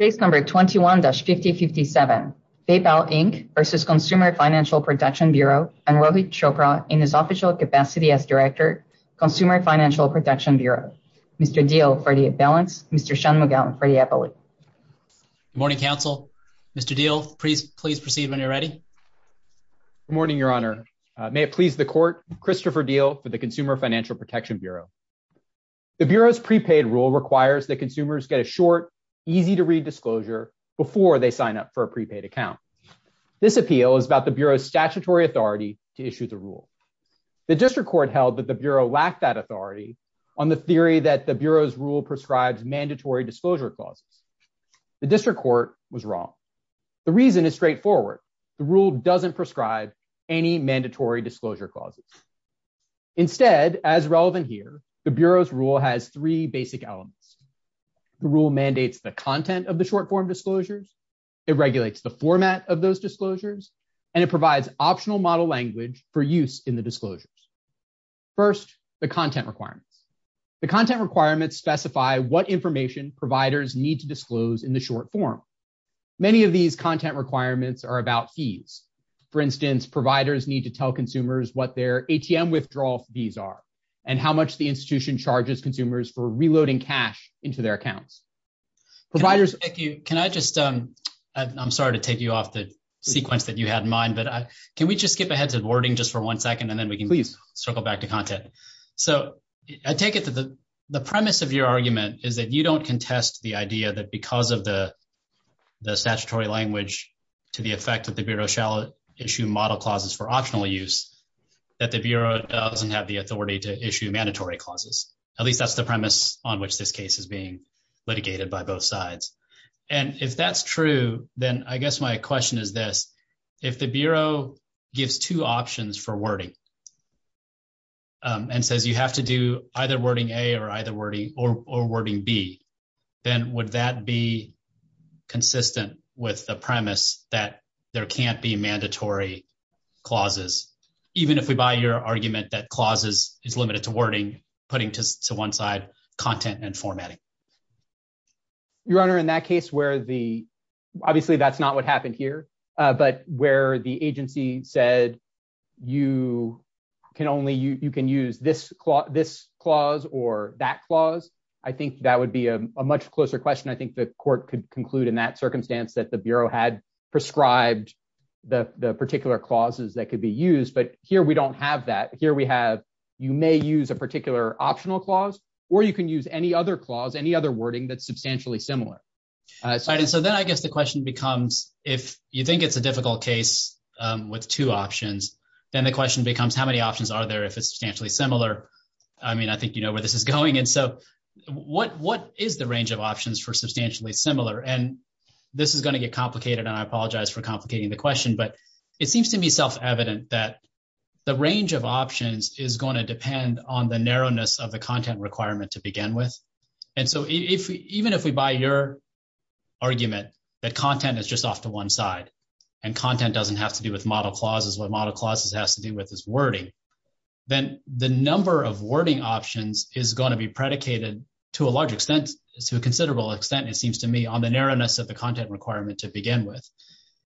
Case number 21-5057, PayPal, Inc. v. Consumer Financial Protection Bureau and Rohit Chopra in his official capacity as Director, Consumer Financial Protection Bureau. Mr. Deal for the balance, Mr. Shanmugam for the appellate. Good morning, counsel. Mr. Deal, please proceed when you're ready. Good morning, Your Honor. May it please the court, Christopher Deal for the Consumer Financial Protection Bureau. The Bureau's prepaid rule requires that consumers get a short, easy-to-read disclosure before they sign up for a prepaid account. This appeal is about the Bureau's statutory authority to issue the rule. The District Court held that the Bureau lacked that authority on the theory that the Bureau's rule prescribes mandatory disclosure clauses. The District Court was wrong. The reason is straightforward. The rule doesn't prescribe any mandatory disclosure clauses. Instead, as relevant here, the Bureau's rule has three basic elements. The rule mandates the content of the short-form disclosures, it regulates the format of those disclosures, and it provides optional model language for use in the disclosures. First, the content requirements. The content requirements specify what information providers need to disclose in the short form. Many of these content requirements are about fees. For instance, providers need to tell consumers what their institution charges consumers for reloading cash into their accounts. Providers... Thank you. Can I just... I'm sorry to take you off the sequence that you had in mind, but can we just skip ahead to the wording just for one second, and then we can circle back to content? So I take it that the premise of your argument is that you don't contest the idea that because of the statutory language to the effect that the Bureau shall issue model clauses for at least that's the premise on which this case is being litigated by both sides. And if that's true, then I guess my question is this. If the Bureau gives two options for wording and says you have to do either wording A or wording B, then would that be consistent with the premise that there can't be mandatory clauses? Even if we buy your argument that clauses is limited to wording, putting to one side content and formatting. Your Honor, in that case where the... Obviously that's not what happened here, but where the agency said you can use this clause or that clause, I think that would be a much closer question. I think the court could conclude in that circumstance that the Bureau had prescribed the particular clauses that could be used, but here we don't have that. Here we have, you may use a particular optional clause or you can use any other clause, any other wording that's substantially similar. All right. And so then I guess the question becomes, if you think it's a difficult case with two options, then the question becomes how many options are there if it's substantially similar? I mean, I think you know where this is going. And so what is the range of options for substantially similar? And this is going to get complicated and I apologize for complicating the question, but it seems to me self-evident that the range of options is going to depend on the narrowness of the content requirement to begin with. And so even if we buy your argument that content is just off to one side and content doesn't have to do with model clauses, what model clauses has to do with is wording, then the number of wording options is going to be predicated to a large extent, to a considerable extent, it seems to me, on the narrowness of the content requirement to begin with.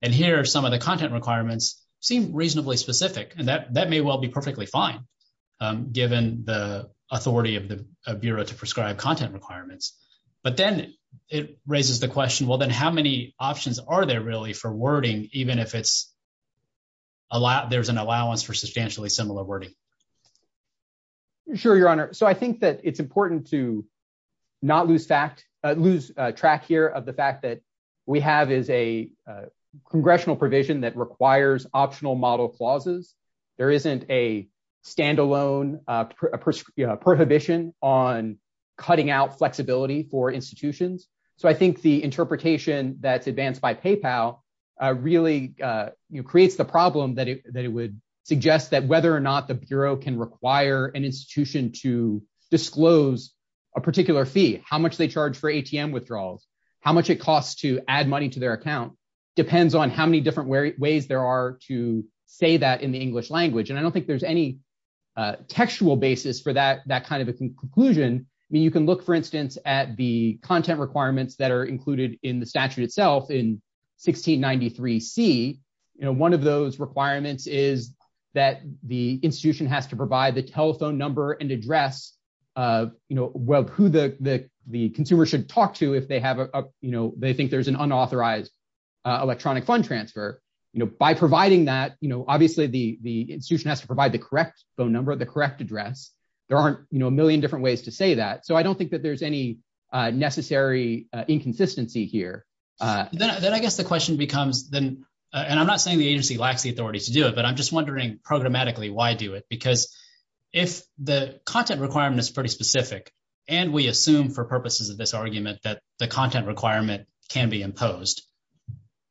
And here, some of the content requirements seem reasonably specific and that may well be perfectly fine given the authority of the Bureau to prescribe content requirements. But then it raises the question, well, then how many options are there really for wording, even if it's allowed, there's an allowance for substantially similar wording. Sure, Your Honor. So I think that it's important to not lose track here of the fact that we have is a congressional provision that requires optional model clauses. There isn't a standalone prohibition on cutting out flexibility for institutions. So I think the interpretation that's advanced by PayPal really creates the problem that it would suggest that whether or not the Bureau can require an institution to disclose a particular fee, how much they charge for ATM withdrawals, how much it costs to add money to their account depends on how many different ways there are to say that in the English language. And I don't think there's any textual basis for that kind of a conclusion. I mean, you can look, for instance, at the content requirements that are included in the statute itself in 1693C. One of those requirements is that the institution has to provide the telephone number and address of who the consumer should talk to if they think there's an unauthorized electronic fund transfer. By providing that, obviously the institution has to provide the correct phone number, the correct address. There aren't a million different ways to do that. I mean, there's no consistency here. Then I guess the question becomes, and I'm not saying the agency lacks the authority to do it, but I'm just wondering programmatically why do it? Because if the content requirement is pretty specific, and we assume for purposes of this argument that the content requirement can be imposed,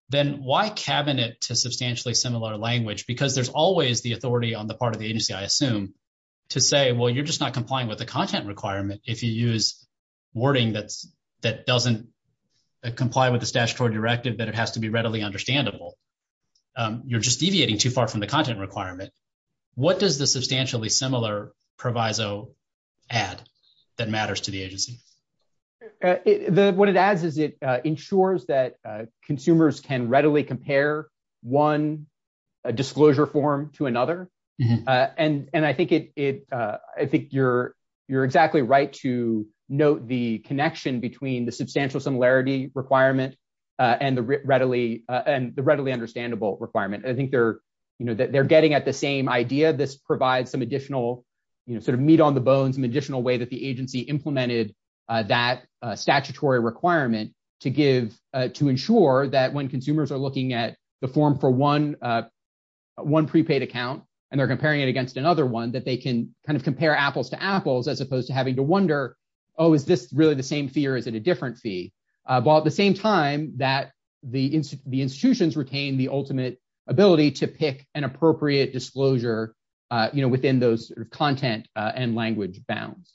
then why cabinet to substantially similar language? Because there's always the authority on the part of the agency, I assume, to say, well, you're just not comply with the statutory directive that it has to be readily understandable. You're just deviating too far from the content requirement. What does the substantially similar proviso add that matters to the agency? What it adds is it ensures that consumers can readily compare one disclosure form to another. I think you're exactly right to note the connection between the substantial similarity requirement and the readily understandable requirement. I think they're getting at the same idea. This provides some additional meat on the bones, an additional way that the agency implemented that statutory requirement to ensure that when consumers are looking at the form for one prepaid account, and they're comparing it against another one, that they can compare apples to apples as opposed to having to wonder, oh, is this really the same fee or is it a different fee? While at the same time that the institutions retain the ultimate ability to pick an appropriate disclosure within those content and language bounds.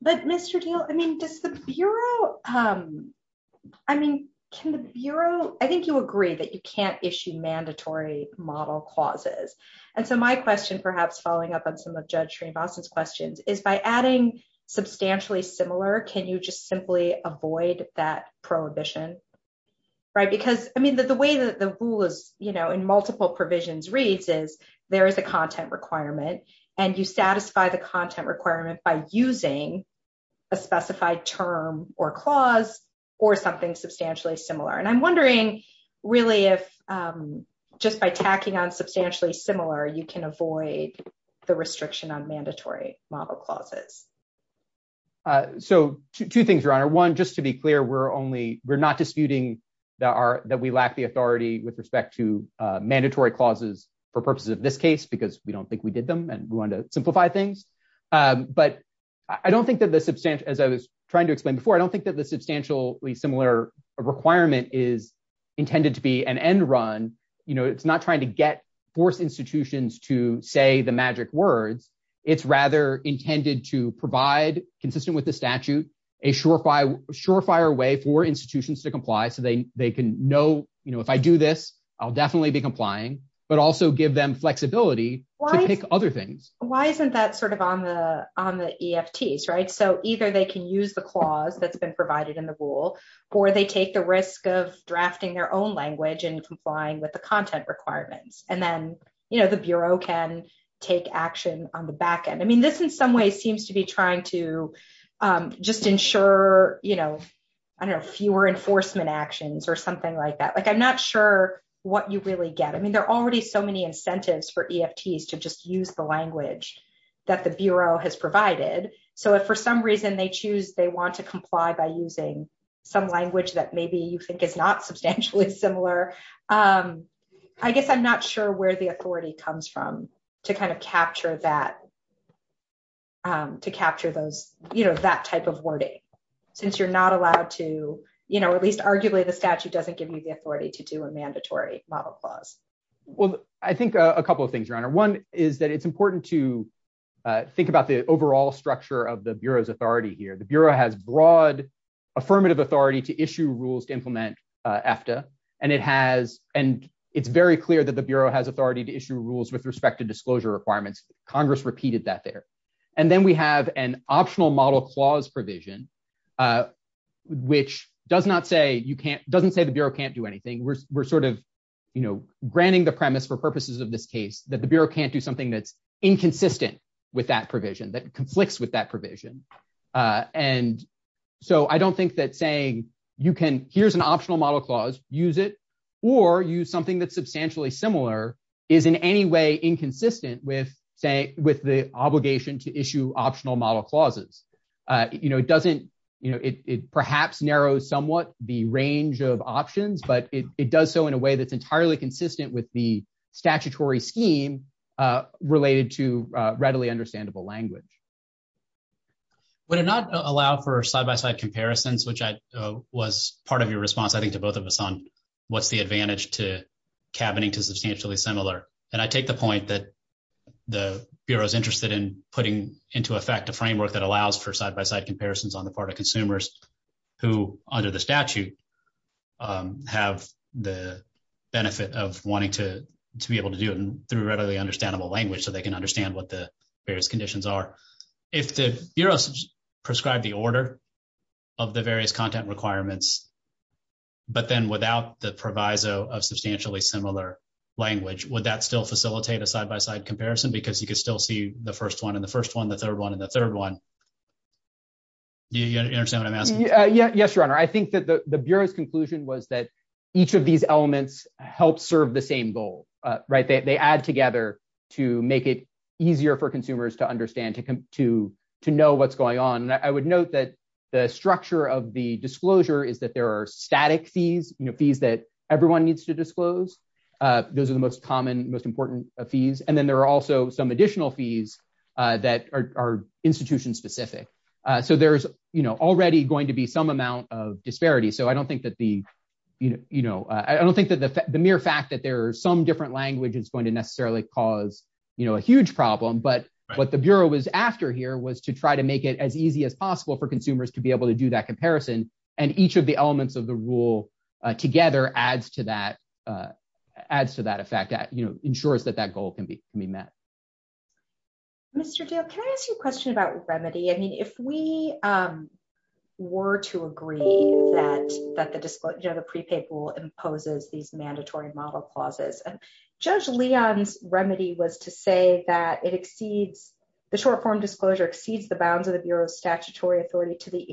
But Mr. Teel, I mean, does the Bureau, I mean, can the Bureau, I think you agree that you can't issue mandatory model clauses. And so my question, perhaps following up on some of Judge Srinivasan's questions, is by adding substantially similar, can you just simply avoid that prohibition? Right, because I mean, the way that the rule is, you know, in multiple provisions reads is there is a content requirement, and you satisfy the content requirement by using a specified term or clause or something substantially similar. And I'm wondering really, if just by tacking on substantially similar, you can avoid the restriction on mandatory model clauses. So two things, Your Honor. One, just to be clear, we're only, we're not disputing that we lack the authority with respect to mandatory clauses for purposes of this case, because we don't think we did them and we wanted to simplify things. But I don't think that the substantial, as I was trying to explain before, I don't think that the substantially similar requirement is intended to be an end run. You know, it's not trying to get, force institutions to say the magic words. It's rather intended to provide, consistent with the statute, a surefire way for institutions to comply so they can know, you know, if I do this, I'll definitely be complying, but also give them flexibility to pick other things. Why isn't that sort of on the EFTs, right? So either they can use the clause that's been provided in the rule, or they take the risk of drafting their own language and complying with the content requirements. And then, you know, the Bureau can take action on the backend. I mean, this in some ways seems to be trying to just ensure, you know, I don't know, fewer enforcement actions or something like that. Like, I'm not sure what you really get. I mean, there are already so many incentives for EFTs to just use the language that the Bureau has provided. So if for some choose, they want to comply by using some language that maybe you think is not substantially similar, I guess I'm not sure where the authority comes from to kind of capture that, to capture those, you know, that type of wording, since you're not allowed to, you know, at least arguably the statute doesn't give you the authority to do a mandatory model clause. Well, I think a couple of things, Your Honor. One is that it's important to think about the overall structure of the Bureau's authority here. The Bureau has broad affirmative authority to issue rules to implement EFTA, and it has, and it's very clear that the Bureau has authority to issue rules with respect to disclosure requirements. Congress repeated that there. And then we have an optional model clause provision, which does not say you can't, doesn't say the Bureau can't do anything. We're sort of, you know, granting the premise for purposes of this case that the Bureau can't do something that's inconsistent with that provision, that conflicts with that provision. And so I don't think that saying you can, here's an optional model clause, use it, or use something that's substantially similar is in any way inconsistent with say, with the obligation to issue optional model clauses. You know, it doesn't, you know, it perhaps narrows somewhat the range of options, but it does so in a way that's entirely consistent with the statutory scheme related to readily understandable language. Would it not allow for side-by-side comparisons, which was part of your response, I think, to both of us on what's the advantage to cabining to substantially similar? And I take the point that the Bureau's interested in putting into effect a framework that allows for side-by-side comparisons on the part of consumers who, under the statute, have the benefit of wanting to be able to do it through readily understandable language so they can understand what the various conditions are. If the Bureau prescribed the order of the various content requirements, but then without the proviso of substantially similar language, would that still facilitate a side-by-side comparison? Because you could still see the first one and the first one, the third one, and the third one. Do you understand what I'm asking? Yeah. Yes, Your Honor. I think that the Bureau's conclusion was that each of these elements helps serve the same goal, right? They add together to make it easier for consumers to understand, to know what's going on. And I would note that the structure of the disclosure is that there are static fees, you know, fees that everyone needs to disclose. Those are the most common, most important fees. And then there are also some additional fees that are institution-specific. So there's, you know, already going to be some amount of disparity. So I don't think that the, you know, I don't think that the mere fact that there are some different language is going to necessarily cause, you know, a huge problem. But what the Bureau was after here was to try to make it as easy as possible for consumers to be able to do that comparison. And each of the elements of the rule together adds to that effect, you know, ensures that that goal can be met. Mr. Dale, can I ask you a question about remedy? I mean, if we were to agree that the prepaid rule imposes these mandatory model clauses, and Judge Leon's remedy was to say that it exceeds, the short-form disclosure exceeds the bounds of the Bureau's statutory authority to the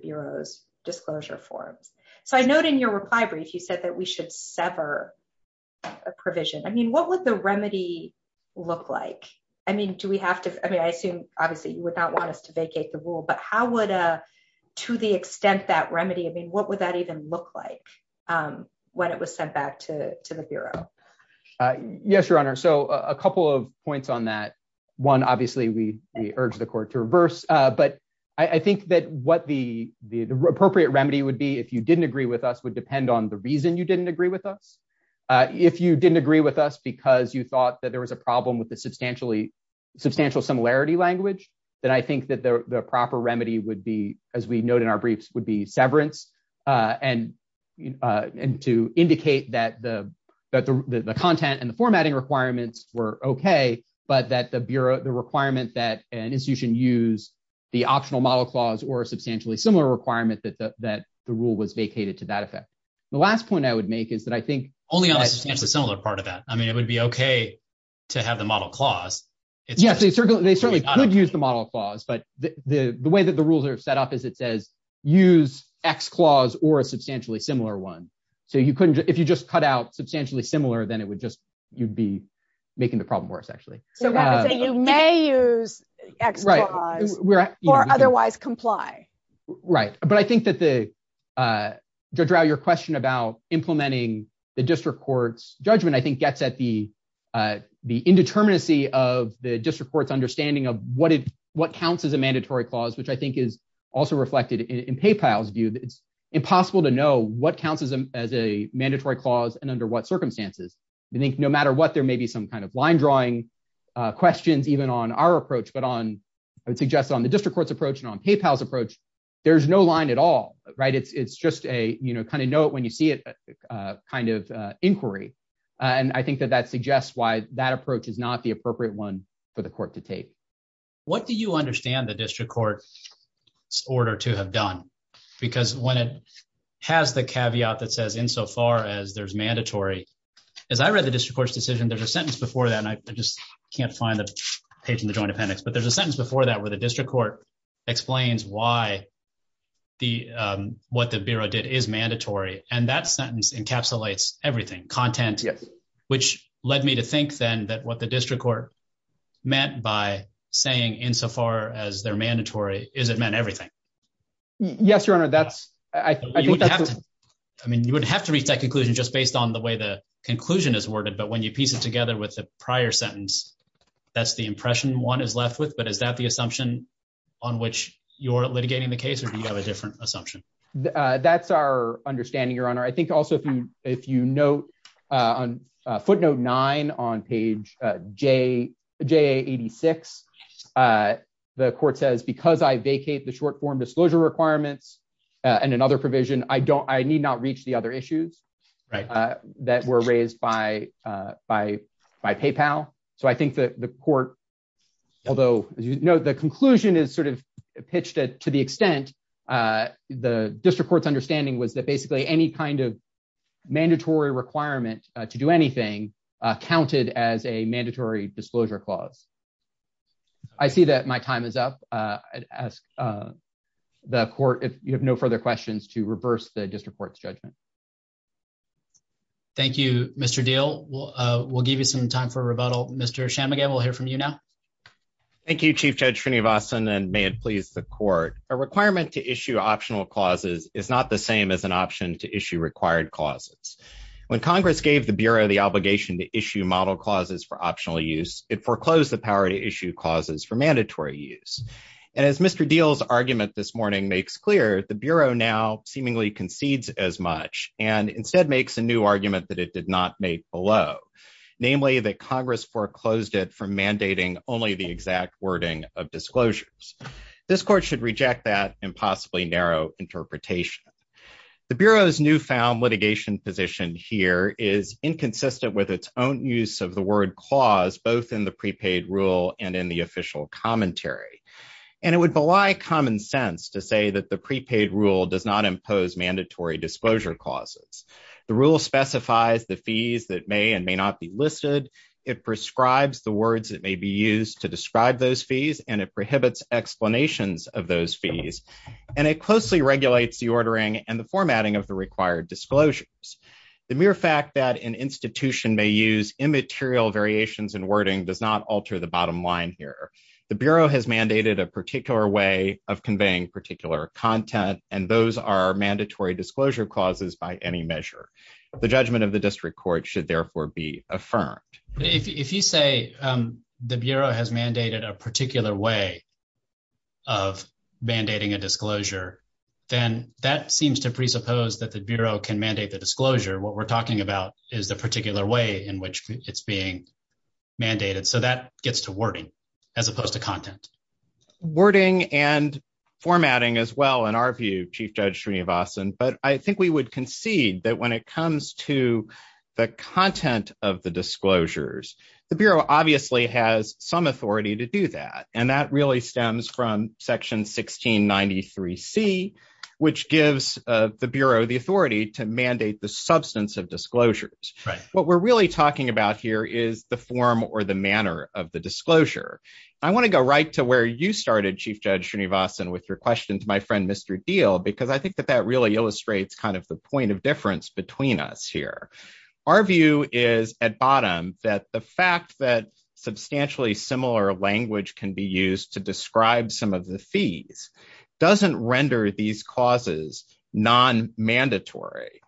Bureau's disclosure forms. So I note in your reply brief, you said that we should sever a provision. I mean, what would the remedy look like? I mean, do we have to, I mean, I assume obviously you would not want us to vacate the rule, but how would, to the extent that remedy, I mean, what would that even look like when it was sent back to the Bureau? Yes, Your Honor. So a couple of points on that. One, obviously we urge the Court to reverse, but I think that what the appropriate remedy would be if you didn't agree with us would depend on the reason you didn't agree with us. If you didn't agree with us because you thought that there was a problem with the substantial similarity language, then I think that the proper remedy would be, as we note in our briefs, would be severance and to indicate that the content and the formatting requirements were okay, but that the Bureau, the requirement that an institution use the optional model clause or a substantially similar requirement that the rule was vacated to that effect. The last point I would make is that I think- Only on the substantially similar part of that. I mean, it would be okay to have the model clause. Yes, they certainly could use the model clause, but the way that the rules are set up is it says use X clause or a substantially similar one. So you couldn't, if you just cut out substantially similar, then it would just, you'd be making the problem worse actually. So that would say you may use X clause or otherwise comply. Right. But I think that the, Judge Rao, your question about implementing the district court's judgment, I think gets at the indeterminacy of the district court's understanding of what counts as a mandatory clause, which I think is also reflected in PayPal's view. It's impossible to know what counts as a mandatory clause and under what circumstances. I think no matter what, there may be some kind of line drawing questions even on our approach, but on, I would suggest on the district court's approach and on PayPal's approach, there's no line at all, right? It's just a kind of note when you see it kind of inquiry. And I think that that suggests why that approach is not the appropriate one for the court to take. What do you understand the district court's order to have done? Because when it has the caveat that says insofar as there's mandatory, as I read the district court's decision, there's a sentence before that. And I just can't find the page in the joint appendix, but there's a sentence before that where the district court explains why the, what the bureau did is mandatory. And that sentence encapsulates everything, content, which led me to think then that what the district court meant by saying insofar as they're mandatory, is it meant everything? Yes, your honor. That's, I mean, you wouldn't have to reach that conclusion just based on the way the conclusion is worded, but when you piece it together with the prior sentence, that's the impression one is left with. But is that the assumption on which you're litigating the case or do you have a different assumption? That's our understanding, your honor. I think also if you note on footnote nine on page J, J 86, the court says, because I vacate the short form disclosure requirements and another provision, I don't, I need not reach the other issues that were raised by PayPal. So I think that the court, although the conclusion is sort of pitched to the extent the district court's understanding was that basically any kind of mandatory requirement to do anything counted as a mandatory disclosure clause. I see that my time is up. I'd ask the court if you have no further questions to reverse the district court's judgment. Thank you, Mr. Deal. We'll give you some time for rebuttal. Mr. Shanmugam, we'll hear from you now. Thank you, Chief Judge Srinivasan, and may it please the court. A requirement to issue obligation to issue model clauses for optional use, it foreclosed the power to issue clauses for mandatory use. And as Mr. Deal's argument this morning makes clear, the Bureau now seemingly concedes as much and instead makes a new argument that it did not make below, namely that Congress foreclosed it for mandating only the exact wording of disclosures. This court should reject that possibly narrow interpretation. The Bureau's newfound litigation position here is inconsistent with its own use of the word clause, both in the prepaid rule and in the official commentary. And it would belie common sense to say that the prepaid rule does not impose mandatory disclosure clauses. The rule specifies the fees that may and may not be listed. It prescribes the words that may be used to describe those fees, and it prohibits explanations of those fees, and it closely regulates the ordering and the formatting of the required disclosures. The mere fact that an institution may use immaterial variations in wording does not alter the bottom line here. The Bureau has mandated a particular way of conveying particular content, and those are mandatory disclosure clauses by any measure. The judgment of the district court should therefore be affirmed. If you say the Bureau has mandated a particular way of mandating a disclosure, then that seems to presuppose that the Bureau can mandate the disclosure. What we're talking about is the particular way in which it's being mandated. So that gets to wording as opposed to content. Wording and formatting as well, in our view, Chief Judge Srinivasan, but I think we would concede that when it comes to the content of disclosures, the Bureau obviously has some authority to do that, and that really stems from Section 1693C, which gives the Bureau the authority to mandate the substance of disclosures. What we're really talking about here is the form or the manner of the disclosure. I want to go right to where you started, Chief Judge Srinivasan, with your question to my friend, Mr. Diehl, because I think that that really illustrates kind of the point of difference between us here. Our view is, at bottom, that the fact that substantially similar language can be used to describe some of the fees doesn't render these causes non-mandatory.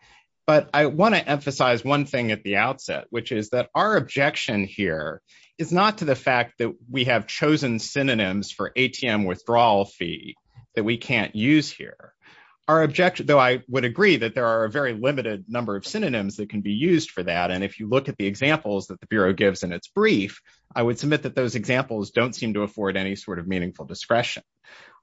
But I want to emphasize one thing at the outset, which is that our objection here is not to the fact that we have chosen synonyms for ATM withdrawal fee that we can't use here. Our objection, though I would number of synonyms that can be used for that, and if you look at the examples that the Bureau gives in its brief, I would submit that those examples don't seem to afford any sort of meaningful discretion.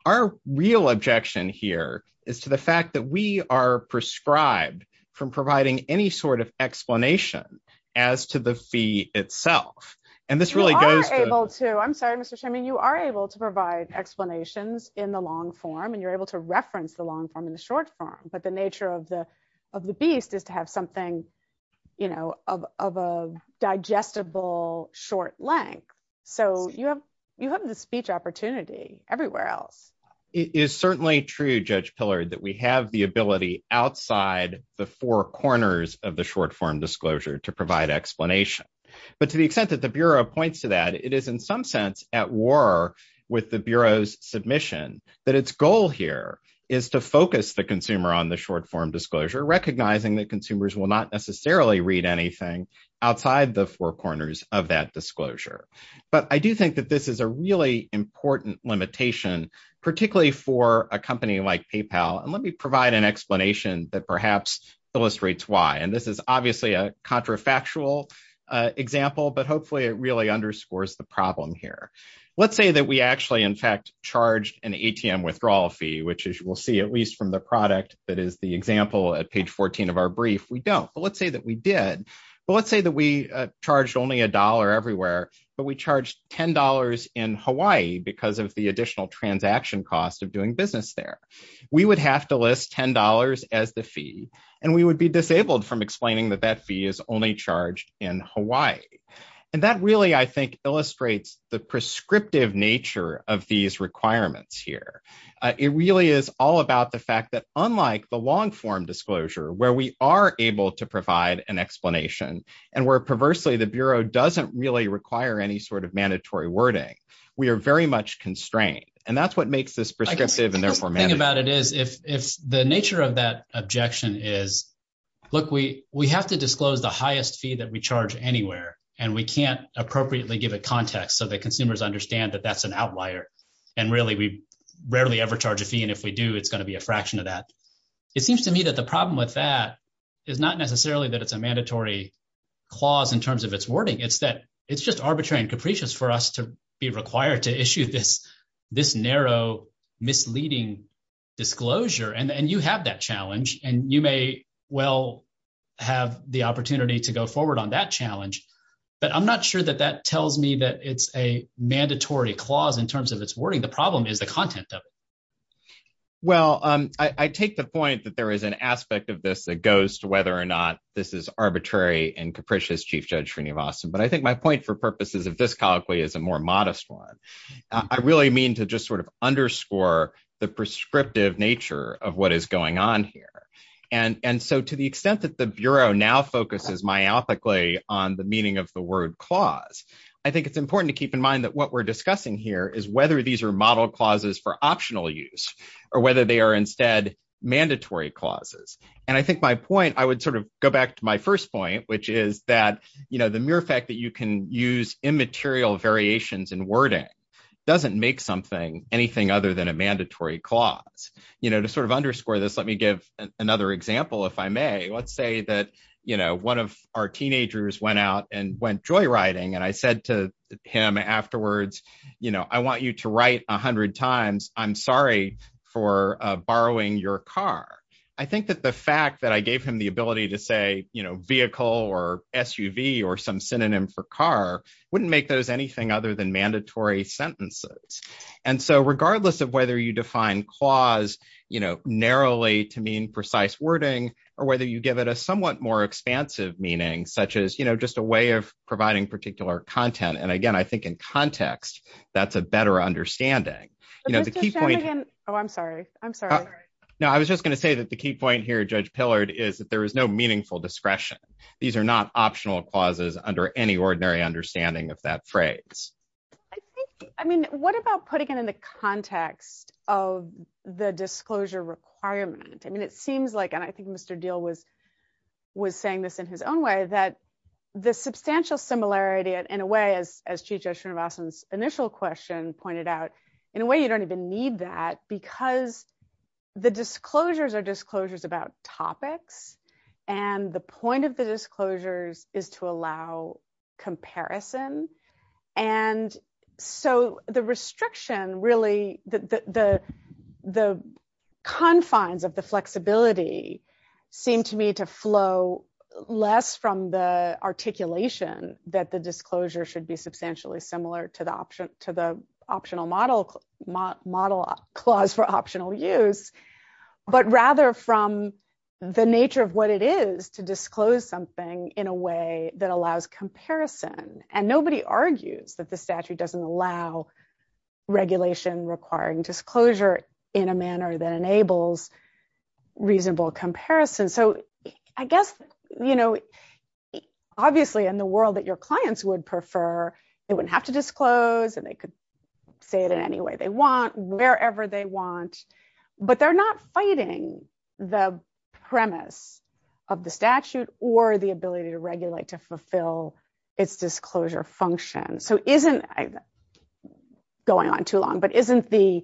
Our real objection here is to the fact that we are prescribed from providing any sort of explanation as to the fee itself, and this really goes to- You are able to. I'm sorry, Mr. Shemin. You are able to provide explanations in the long form, and you're able to reference the long form in the short form, but the nature of the beast is to have something of a digestible short length, so you have the speech opportunity everywhere else. It is certainly true, Judge Pillard, that we have the ability outside the four corners of the short form disclosure to provide explanation, but to the extent that the Bureau points to that, it is in some sense at war with the Bureau's submission that its goal here is to focus the consumer on the short form disclosure, recognizing that consumers will not necessarily read anything outside the four corners of that disclosure, but I do think that this is a really important limitation, particularly for a company like PayPal, and let me provide an explanation that perhaps illustrates why, and this is obviously a contrafactual example, but hopefully it really underscores the problem here. Let's say that we actually, in fact, charged an ATM withdrawal fee, which as you will see, at least from the product that is the example at page 14 of our brief, we don't, but let's say that we did, but let's say that we charged only a dollar everywhere, but we charged $10 in Hawaii because of the additional transaction cost of doing business there. We would have to list $10 as the fee, and we would be disabled from explaining that that fee is only charged in Hawaii, and that really, I think, illustrates the prescriptive nature of these requirements here. It really is all about the fact that unlike the long form disclosure, where we are able to provide an explanation and where perversely the Bureau doesn't really require any sort of mandatory wording, we are very much constrained, and that's what makes this prescriptive and therefore mandatory. The thing about it is, if the nature of that objection is, look, we have to charge the highest fee that we charge anywhere, and we can't appropriately give a context so that consumers understand that that's an outlier, and really, we rarely ever charge a fee, and if we do, it's going to be a fraction of that. It seems to me that the problem with that is not necessarily that it's a mandatory clause in terms of its wording. It's that it's just arbitrary and capricious for us to be required to issue this narrow misleading disclosure, and you have that to go forward on that challenge, but I'm not sure that that tells me that it's a mandatory clause in terms of its wording. The problem is the content of it. Well, I take the point that there is an aspect of this that goes to whether or not this is arbitrary and capricious, Chief Judge Srinivasan, but I think my point for purpose is, if this colloquy is a more modest one, I really mean to just sort of underscore the prescriptive nature of what is on here, and so to the extent that the Bureau now focuses myopically on the meaning of the word clause, I think it's important to keep in mind that what we're discussing here is whether these are model clauses for optional use or whether they are instead mandatory clauses, and I think my point, I would sort of go back to my first point, which is that the mere fact that you can use immaterial variations in wording doesn't make something anything other than a mandatory clause. You know, to sort of underscore this, let me give another example, if I may. Let's say that, you know, one of our teenagers went out and went joyriding, and I said to him afterwards, you know, I want you to write a hundred times, I'm sorry for borrowing your car. I think that the fact that I gave him the ability to say, you know, vehicle or SUV or some synonym for car wouldn't make those anything other than mandatory sentences, and so regardless of whether you define clause, you know, narrowly to mean precise wording or whether you give it a somewhat more expansive meaning, such as, you know, just a way of providing particular content, and again, I think in context, that's a better understanding. You know, the key point... But Mr. Shanigan, oh, I'm sorry. I'm sorry. No, I was just going to say that the key point here, Judge Pillard, is that there is no meaningful discretion. These are not optional clauses under any ordinary understanding of that phrase. I think, I mean, what about putting it in the context of the disclosure requirement? I mean, it seems like, and I think Mr. Deal was saying this in his own way, that the substantial similarity in a way, as Chief Judge Srinivasan's initial question pointed out, in a way you don't even need that because the disclosures are disclosures about topics, and the point of disclosures is to allow comparison, and so the restriction, really, the confines of the flexibility seem to me to flow less from the articulation that the disclosure should be substantially similar to the optional model clause for optional use, but rather from the in a way that allows comparison, and nobody argues that the statute doesn't allow regulation requiring disclosure in a manner that enables reasonable comparison. So I guess, you know, obviously, in the world that your clients would prefer, they wouldn't have to disclose, and they could say it in any way they want, wherever they want, but they're not fighting the premise of the statute or the ability to regulate to fulfill its disclosure function. So isn't, going on too long, but isn't the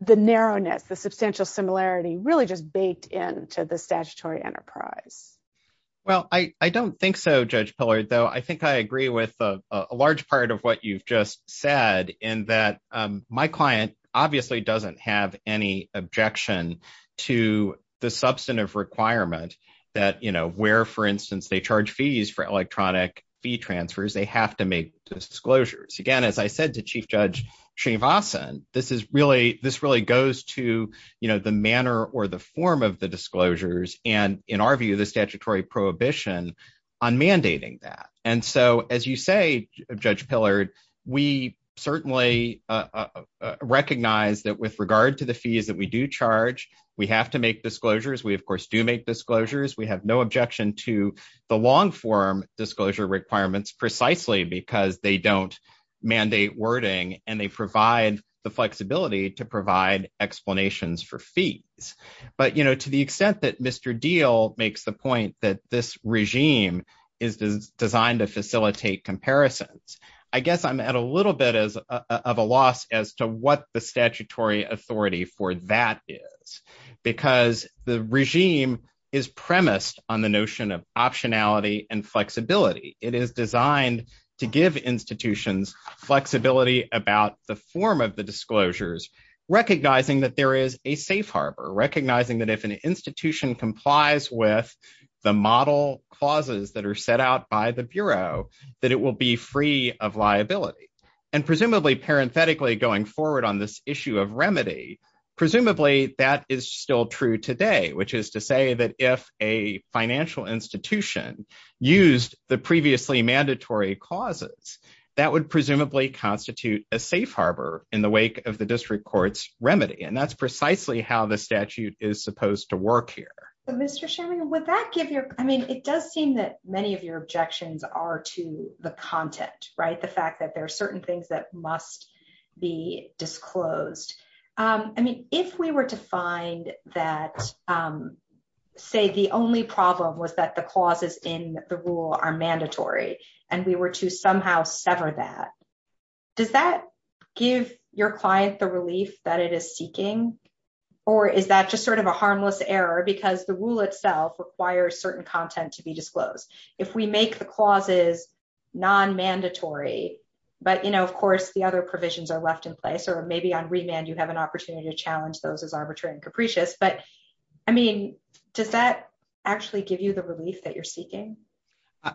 narrowness, the substantial similarity really just baked into the statutory enterprise? Well, I don't think so, Judge Pillard, though I think I agree with a large part of what you've said in that my client obviously doesn't have any objection to the substantive requirement that, you know, where, for instance, they charge fees for electronic fee transfers, they have to make disclosures. Again, as I said to Chief Judge Srivastava, this is really, this really goes to, you know, the manner or the form of the disclosures, and in our view, the statutory prohibition on mandating that. And so, as you say, Judge Pillard, we certainly recognize that with regard to the fees that we do charge, we have to make disclosures, we of course do make disclosures, we have no objection to the long form disclosure requirements, precisely because they don't mandate wording, and they provide the flexibility to provide explanations for fees. But, you know, to the extent that Mr. Diehl makes the point that this regime is designed to facilitate comparisons, I guess I'm at a little bit of a loss as to what the statutory authority for that is, because the regime is premised on the notion of optionality and flexibility. It is designed to give institutions flexibility about the form of disclosures, recognizing that there is a safe harbor, recognizing that if an institution complies with the model clauses that are set out by the Bureau, that it will be free of liability. And presumably, parenthetically, going forward on this issue of remedy, presumably that is still true today, which is to say that if a financial institution used the previously mandatory clauses, that would presumably constitute a safe harbor in the wake of the district court's remedy, and that's precisely how the statute is supposed to work here. But Mr. Sherman, would that give you, I mean, it does seem that many of your objections are to the content, right, the fact that there are certain things that must be disclosed. I mean, if we were to find that, say, the only problem was that the clauses in the rule are mandatory, and we were to somehow sever that, does that give your client the relief that it is seeking, or is that just sort of a harmless error because the rule itself requires certain content to be disclosed? If we make the clauses non-mandatory, but, you know, of course, the other provisions are left in place, or maybe on remand you have an opportunity to challenge those as arbitrary and capricious, but, I mean, does that actually give you the relief that you're seeking?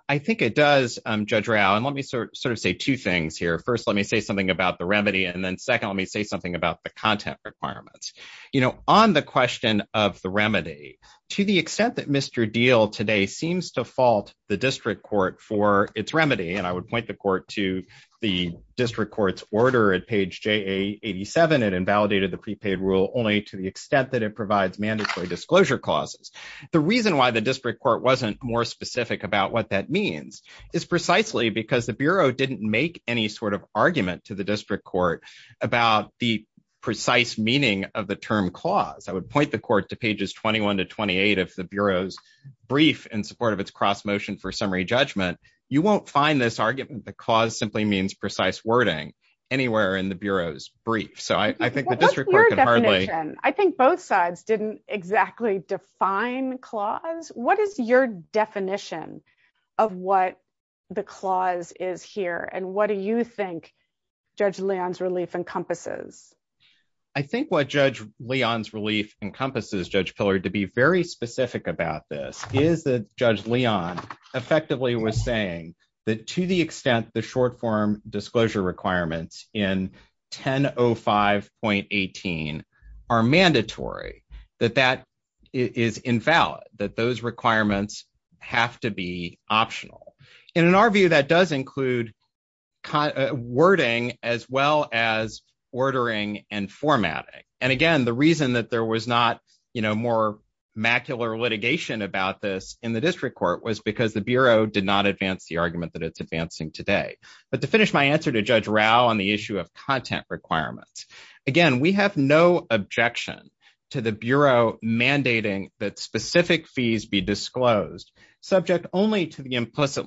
I think it does, Judge Rao, and let me sort of say two things here. First, let me say something about the remedy, and then second, let me say something about the content requirements. You know, on the question of the remedy, to the extent that Mr. Deal today seems to fault the district court for its remedy, and I would the court to the district court's order at page JA87, it invalidated the prepaid rule only to the extent that it provides mandatory disclosure clauses. The reason why the district court wasn't more specific about what that means is precisely because the Bureau didn't make any sort of argument to the district court about the precise meaning of the term clause. I would point the court to pages 21 to 28 of the Bureau's brief in support of its cross-motion for summary judgment. You won't find this argument, the clause simply means precise wording, anywhere in the Bureau's brief, so I think the district court can hardly... What's your definition? I think both sides didn't exactly define clause. What is your definition of what the clause is here, and what do you think Judge Leon's relief encompasses? I think what Judge Leon's relief encompasses, Judge Pillard, to be very specific about this, is that Judge Leon effectively was saying that to the extent the short-form disclosure requirements in 1005.18 are mandatory, that that is invalid, that those requirements have to be optional. In our view, that does include wording as well as ordering and formatting. And again, the reason that there was not more macular litigation about this in the district court was because the Bureau did not advance the argument that it's advancing today. But to finish my answer to Judge Rao on the issue of content requirements, again, we have no objection to the Bureau mandating that specific fees be disclosed subject only to the implicit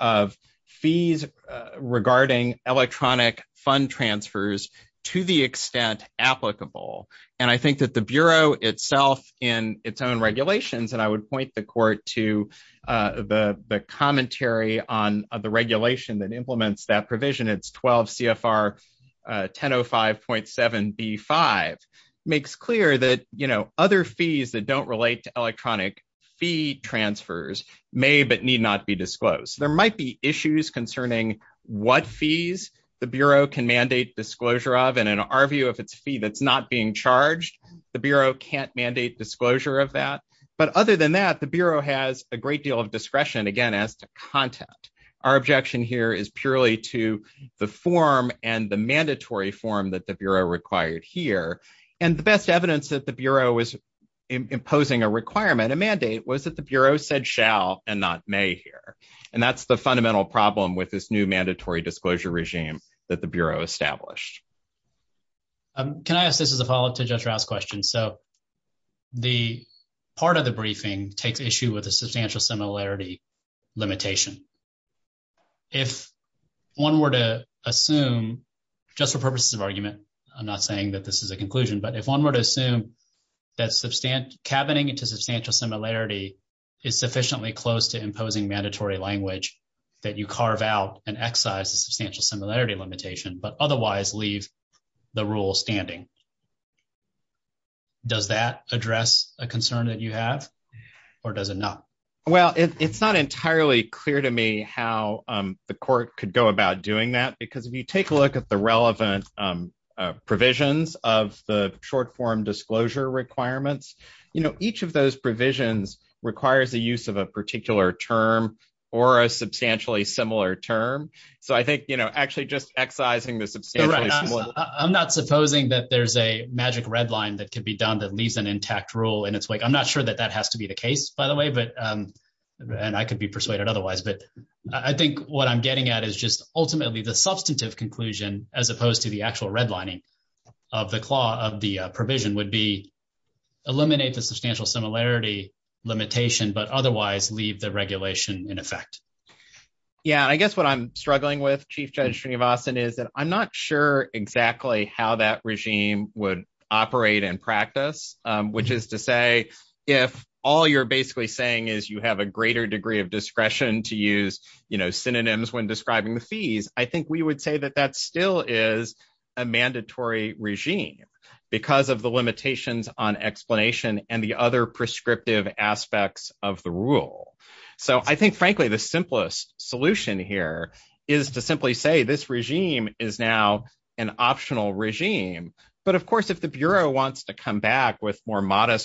of fees regarding electronic fund transfers to the extent applicable. And I think that the Bureau itself in its own regulations, and I would point the court to the commentary on the regulation that implements that provision, it's 12 CFR 1005.7B5, makes clear that other fees that don't be disclosed. There might be issues concerning what fees the Bureau can mandate disclosure of, and in our view, if it's a fee that's not being charged, the Bureau can't mandate disclosure of that. But other than that, the Bureau has a great deal of discretion, again, as to content. Our objection here is purely to the form and the mandatory form that the Bureau required here. And the best evidence that the Bureau was imposing a requirement, a mandate, was that the Bureau said shall and not may here. And that's the fundamental problem with this new mandatory disclosure regime that the Bureau established. Can I ask this as a follow-up to Judge Rao's question? So the part of the briefing takes issue with the substantial similarity limitation. If one were to assume, just for purposes of argument, I'm not saying that this is a conclusion, but if one were to assume that cabining into substantial similarity is sufficiently close to imposing mandatory language that you carve out and excise the substantial similarity limitation, but otherwise leave the rule standing, does that address a concern that you have, or does it not? Well, it's not entirely clear to me how the Court could go about doing that, because if you take a look at the relevant provisions of the short-form disclosure requirements, each of those provisions requires the use of a particular term or a substantially similar term. So I think actually just excising the substantially similar... I'm not supposing that there's a magic red line that could be done that leaves an intact rule in its wake. I'm not sure that that has to be the case, by the way, and I could be persuaded otherwise. But I think what I'm getting at is ultimately the substantive conclusion, as opposed to the actual redlining of the provision, would be eliminate the substantial similarity limitation, but otherwise leave the regulation in effect. Yeah, I guess what I'm struggling with, Chief Judge Srinivasan, is that I'm not sure exactly how that regime would operate in practice, which is to say, if all you're basically saying is you have a greater degree of discretion to use synonyms when describing the fees, I think we would say that that still is a mandatory regime, because of the limitations on explanation and the other prescriptive aspects of the rule. So I think, frankly, the simplest solution here is to simply say this regime is now an optional regime. But of course, if the Bureau wants to come back with requirements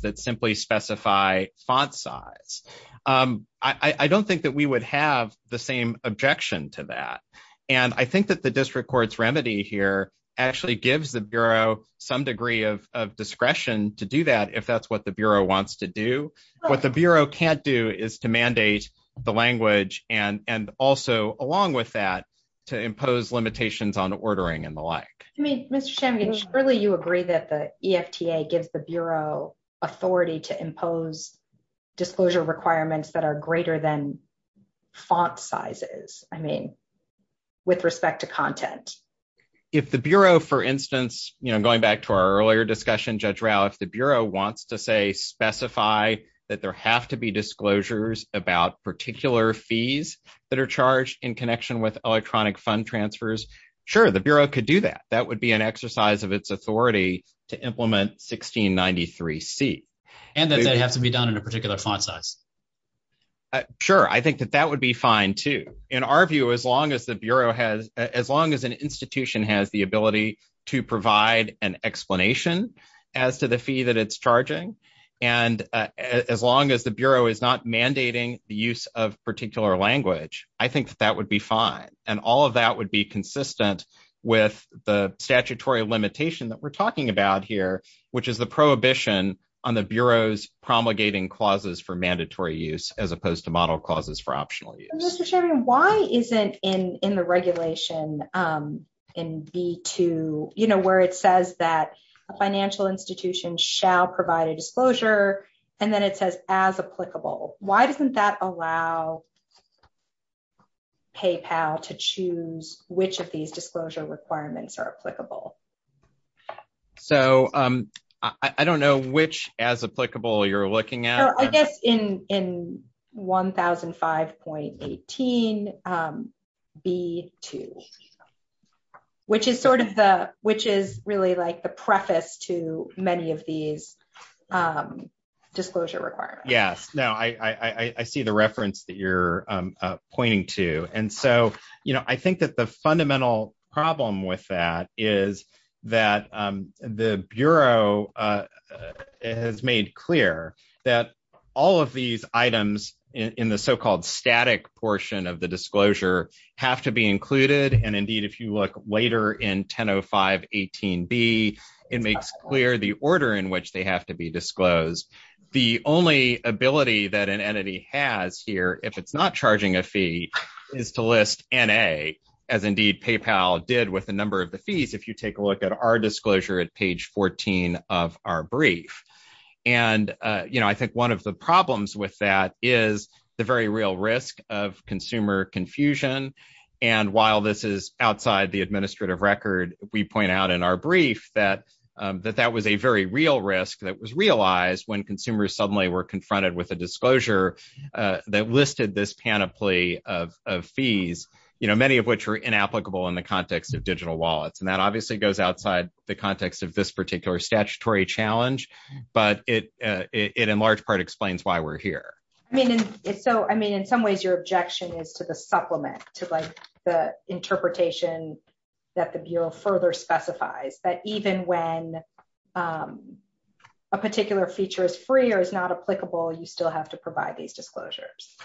that simply specify font size, I don't think that we would have the same objection to that. And I think that the district court's remedy here actually gives the Bureau some degree of discretion to do that, if that's what the Bureau wants to do. What the Bureau can't do is to mandate the language and also, along with that, to impose limitations on the language. So I think that the FDA gives the Bureau authority to impose disclosure requirements that are greater than font sizes, I mean, with respect to content. If the Bureau, for instance, you know, going back to our earlier discussion, Judge Rao, if the Bureau wants to, say, specify that there have to be disclosures about particular fees that are charged in connection with electronic fund transfers, sure, the Bureau could do that. That would be an exercise of its authority to implement 1693C. And that they have to be done in a particular font size. Sure, I think that that would be fine, too. In our view, as long as the Bureau has, as long as an institution has the ability to provide an explanation as to the fee that it's charging, and as long as the Bureau is not mandating the use of particular language, I think that that would be fine. And all of that would be consistent with the statutory limitation that we're talking about here, which is the prohibition on the Bureau's promulgating clauses for mandatory use, as opposed to model clauses for optional use. Mr. Sherman, why isn't in the regulation in B-2, you know, where it says that a financial institution shall provide a disclosure, and then it says as applicable, why doesn't that allow PayPal to choose which of these disclosure requirements are applicable? So, I don't know which as applicable you're looking at. I guess in 1005.18B-2, which is sort of the, which is really like the preface to many of these disclosure requirements. Yes. No, I see the reference that you're pointing to. And so, you know, I think that the fundamental problem with that is that the Bureau has made clear that all of these items in the so-called static portion of the disclosure have to be included. And indeed, if you look later in 1005.18B, it makes clear the order in which they have to be disclosed. The only ability that an entity has here, if it's not charging a fee, is to list N-A, as indeed PayPal did with a number of the fees, if you take a look at our disclosure at page 14 of our brief. And, you know, I think one of the problems with that is the very real risk of consumer confusion. And while this is outside the administrative record, we point out in our brief that that was a very real risk that was realized when consumers suddenly were confronted with a disclosure that listed this panoply of fees, you know, many of which are inapplicable in the context of digital wallets. And that obviously goes outside the context of this particular statutory challenge, but it in large part explains why we're here. I mean, in some ways your objection is to the supplement, to like the interpretation that the Bureau further specifies, that even when a particular feature is free or is not applicable, you still have to provide these disclosures.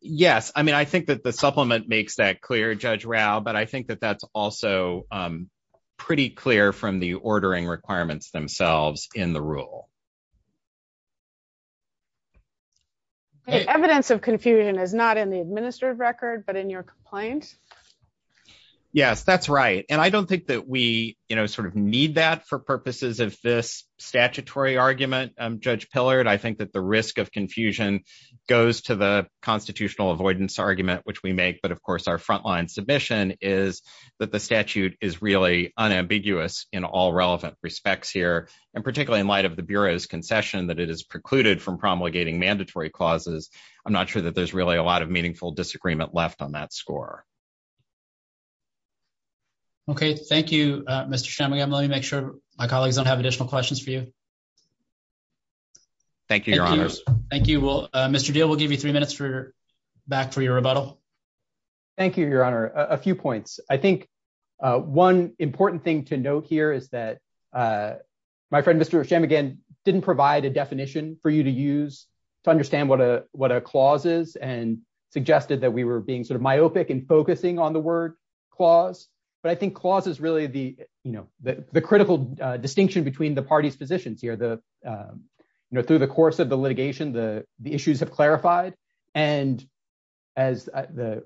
Yes. I mean, I think that the supplement makes that clear, Judge Rao, but I think that that's also pretty clear from the ordering requirements themselves in the rule. Evidence of confusion is not in the Yes, that's right. And I don't think that we, you know, sort of need that for purposes of this statutory argument, Judge Pillard. I think that the risk of confusion goes to the constitutional avoidance argument, which we make, but of course our frontline submission is that the statute is really unambiguous in all relevant respects here. And particularly in light of the Bureau's concession that it is precluded from promulgating mandatory clauses. I'm not sure that there's really a lot of meaningful disagreement left on that score. Okay. Thank you, Mr. Shemmigan. Let me make sure my colleagues don't have additional questions for you. Thank you, Your Honor. Thank you. Mr. Deal, we'll give you three minutes for your, back for your rebuttal. Thank you, Your Honor. A few points. I think one important thing to note here is that my friend, Mr. Shemmigan, didn't provide a definition for you to use to understand what a clause is and suggested that we were being sort of myopic and focusing on the word clause. But I think clause is really the, you know, the critical distinction between the party's positions here, the, you know, through the course of the litigation, the issues have clarified. And as the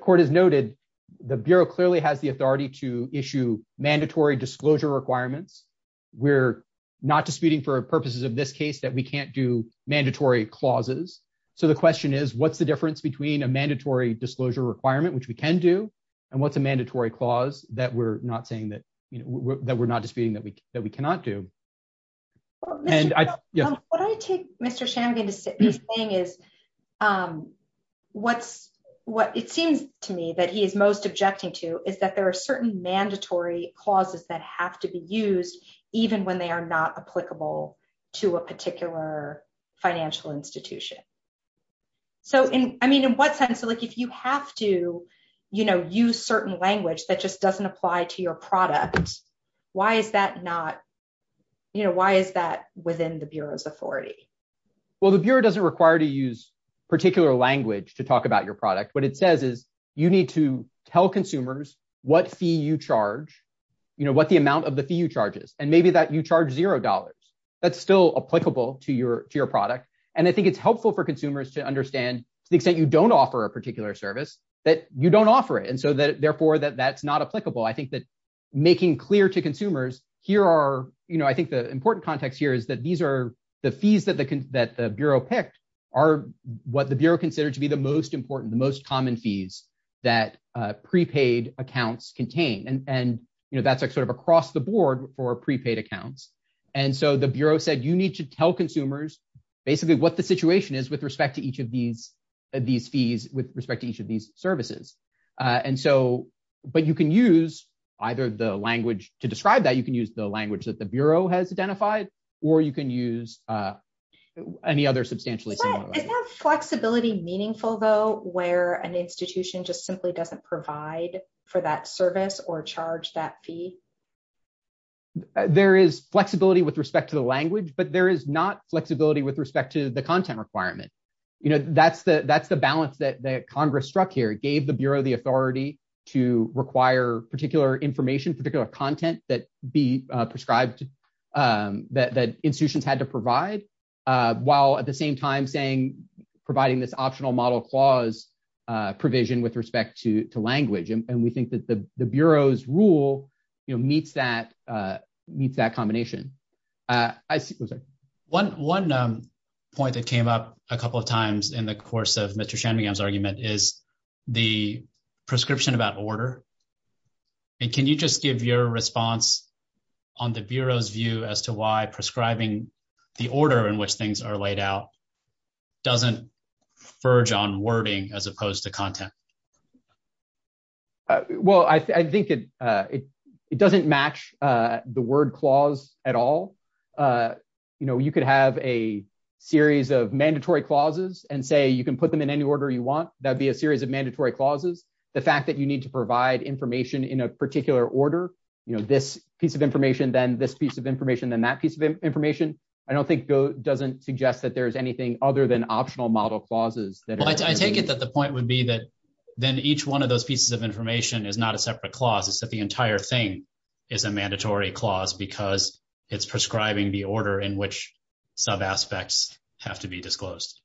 Court has noted, the Bureau clearly has the authority to issue mandatory disclosure requirements. We're not disputing for purposes of this case that we can't do mandatory clauses. So the question is, what's the difference between a mandatory disclosure requirement, which we can do, and what's a mandatory clause that we're not saying that, you know, that we're not disputing that we cannot do? What I take Mr. Shemmigan is saying is what's, what it seems to me that he is most objecting to is that there are certain mandatory clauses that have to be used, even when they are not applicable to a particular financial institution. So in, I mean, in what sense, like if you have to, you know, use certain language that just doesn't apply to your product, why is that not, you know, why is that within the Bureau's authority? Well, the Bureau doesn't require to use particular language to talk about your product. What it says is you need to tell consumers what fee you charge, you know, what the amount of the fee you charges, and maybe that you charge $0. That's still applicable to your product. And I think it's helpful for consumers to understand to the extent you don't offer a particular service, that you don't offer it. And so therefore that that's not applicable. I think that making clear to consumers here are, you know, I think the important context here is that these are the fees that the Bureau picked are what the Bureau considered to be the most important, the most common fees that prepaid accounts contain. And, you know, that's like sort of across the board for prepaid accounts. And so the Bureau said, you need to tell consumers basically what the situation is with respect to each of these, these fees with respect to each of these services. And so, but you can use either the language to describe that you can use the language that the Bureau has identified, or you can use any other substantially similar. Is that flexibility meaningful, though, where an institution just simply doesn't provide for that service or charge that fee? There is flexibility with respect to the language, but there is not flexibility with respect to the content requirement. You know, that's the, that's the balance that Congress struck here, gave the Bureau the authority to require particular information, particular content that be prescribed, that institutions had to provide, while at the same time saying, providing this optional model clause provision with respect to language. And we think that the Bureau's rule, you know, meets that, meets that combination. I see, I'm sorry. One, one point that came up a couple of times in the course of Mr. Shanmugam's argument is the prescription about order. And can you just give your response on the Bureau's view as to why prescribing the order in which things are laid out doesn't verge on wording as opposed to content? Well, I think it, it doesn't match the word clause at all. You know, you could have a series of mandatory clauses and say, you can put them in any order you want. That'd be a series of mandatory clauses. The fact that you need to provide information in a particular order, you know, this piece of information, then this piece of information, then that piece of information, I don't think doesn't suggest that there's anything other than optional model clauses. Well, I take it that the point would be that then each one of those pieces of information is not a separate clause. It's that the entire thing is a mandatory clause because it's prescribing the order in which sub-aspects have to be disclosed.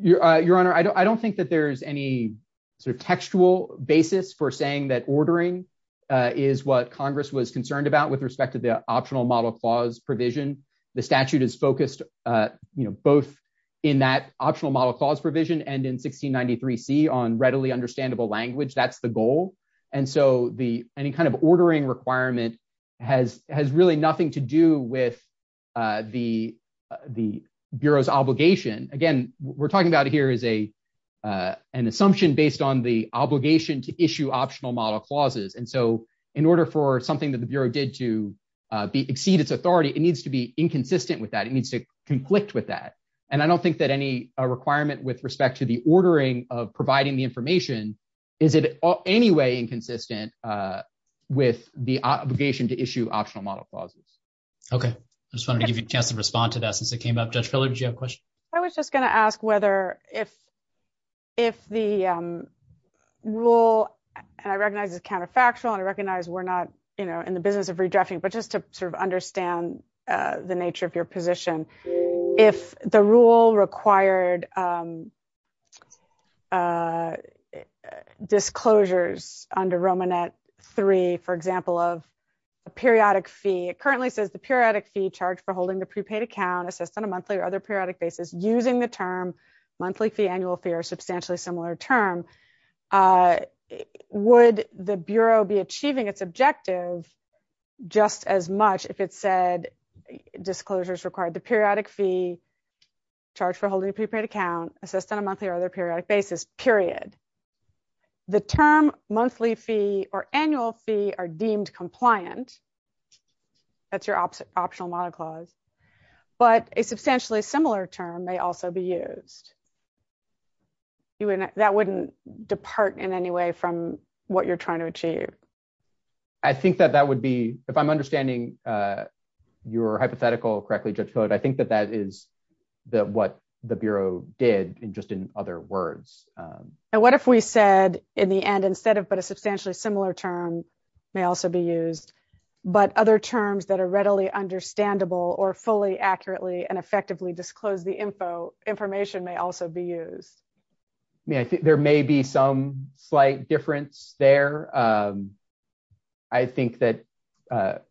Your Honor, I don't think that there's any sort of textual basis for saying that ordering is what Congress was concerned about with respect to the optional model clause provision. The statute is focused, you know, both in that optional model clause provision and in 1693C on readily understandable language. That's the goal. And so the, any kind of ordering requirement has, has really nothing to do with the, the Bureau's obligation. Again, what we're talking about here is a, an assumption based on the obligation to issue optional model clauses. And so in order for inconsistent with that, it needs to conflict with that. And I don't think that any requirement with respect to the ordering of providing the information is in any way inconsistent with the obligation to issue optional model clauses. Okay. I just wanted to give you a chance to respond to that since it came up. Judge Filler, did you have a question? I was just going to ask whether if, if the rule, and I recognize it's counterfactual and I recognize we're not, you know, in the business of redrafting, but just to sort of understand the nature of your position, if the rule required disclosures under Romanet 3, for example, of a periodic fee, it currently says the periodic fee charged for holding the prepaid account assessed on a monthly or other periodic basis using the term monthly fee, annual fee, or substantially similar term, would the Bureau be achieving its objective just as much if it said disclosures required the periodic fee charged for holding a prepaid account assessed on a monthly or other periodic basis, period. The term monthly fee or annual fee are deemed compliant. That's your optional model clause, but a substantially similar term may also be used. That wouldn't depart in any way from what you're trying to achieve. I think that that would be, if I'm understanding your hypothetical correctly, Judge Hill, I think that that is what the Bureau did in just in other words. And what if we said in the end, instead of, but a substantially similar term may also be used, but other terms that are readily understandable or fully accurately and effectively disclose the information may also be used. I mean, I think there may be some slight difference there. I think that the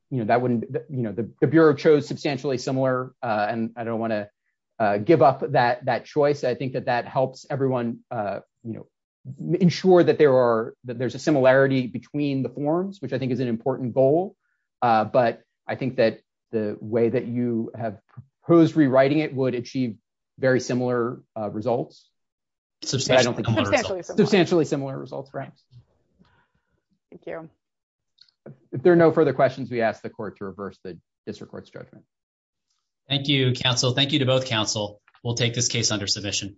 Bureau chose substantially similar, and I don't want to give up that choice. I think that that helps everyone ensure that there's a similarity between the forms, which I think is an important goal. But I think that the way that you have proposed rewriting it would achieve very similar results. Substantially similar results, right? Thank you. If there are no further questions, we ask the court to reverse the district court's judgment. Thank you, counsel. Thank you to both counsel. We'll take this case under submission.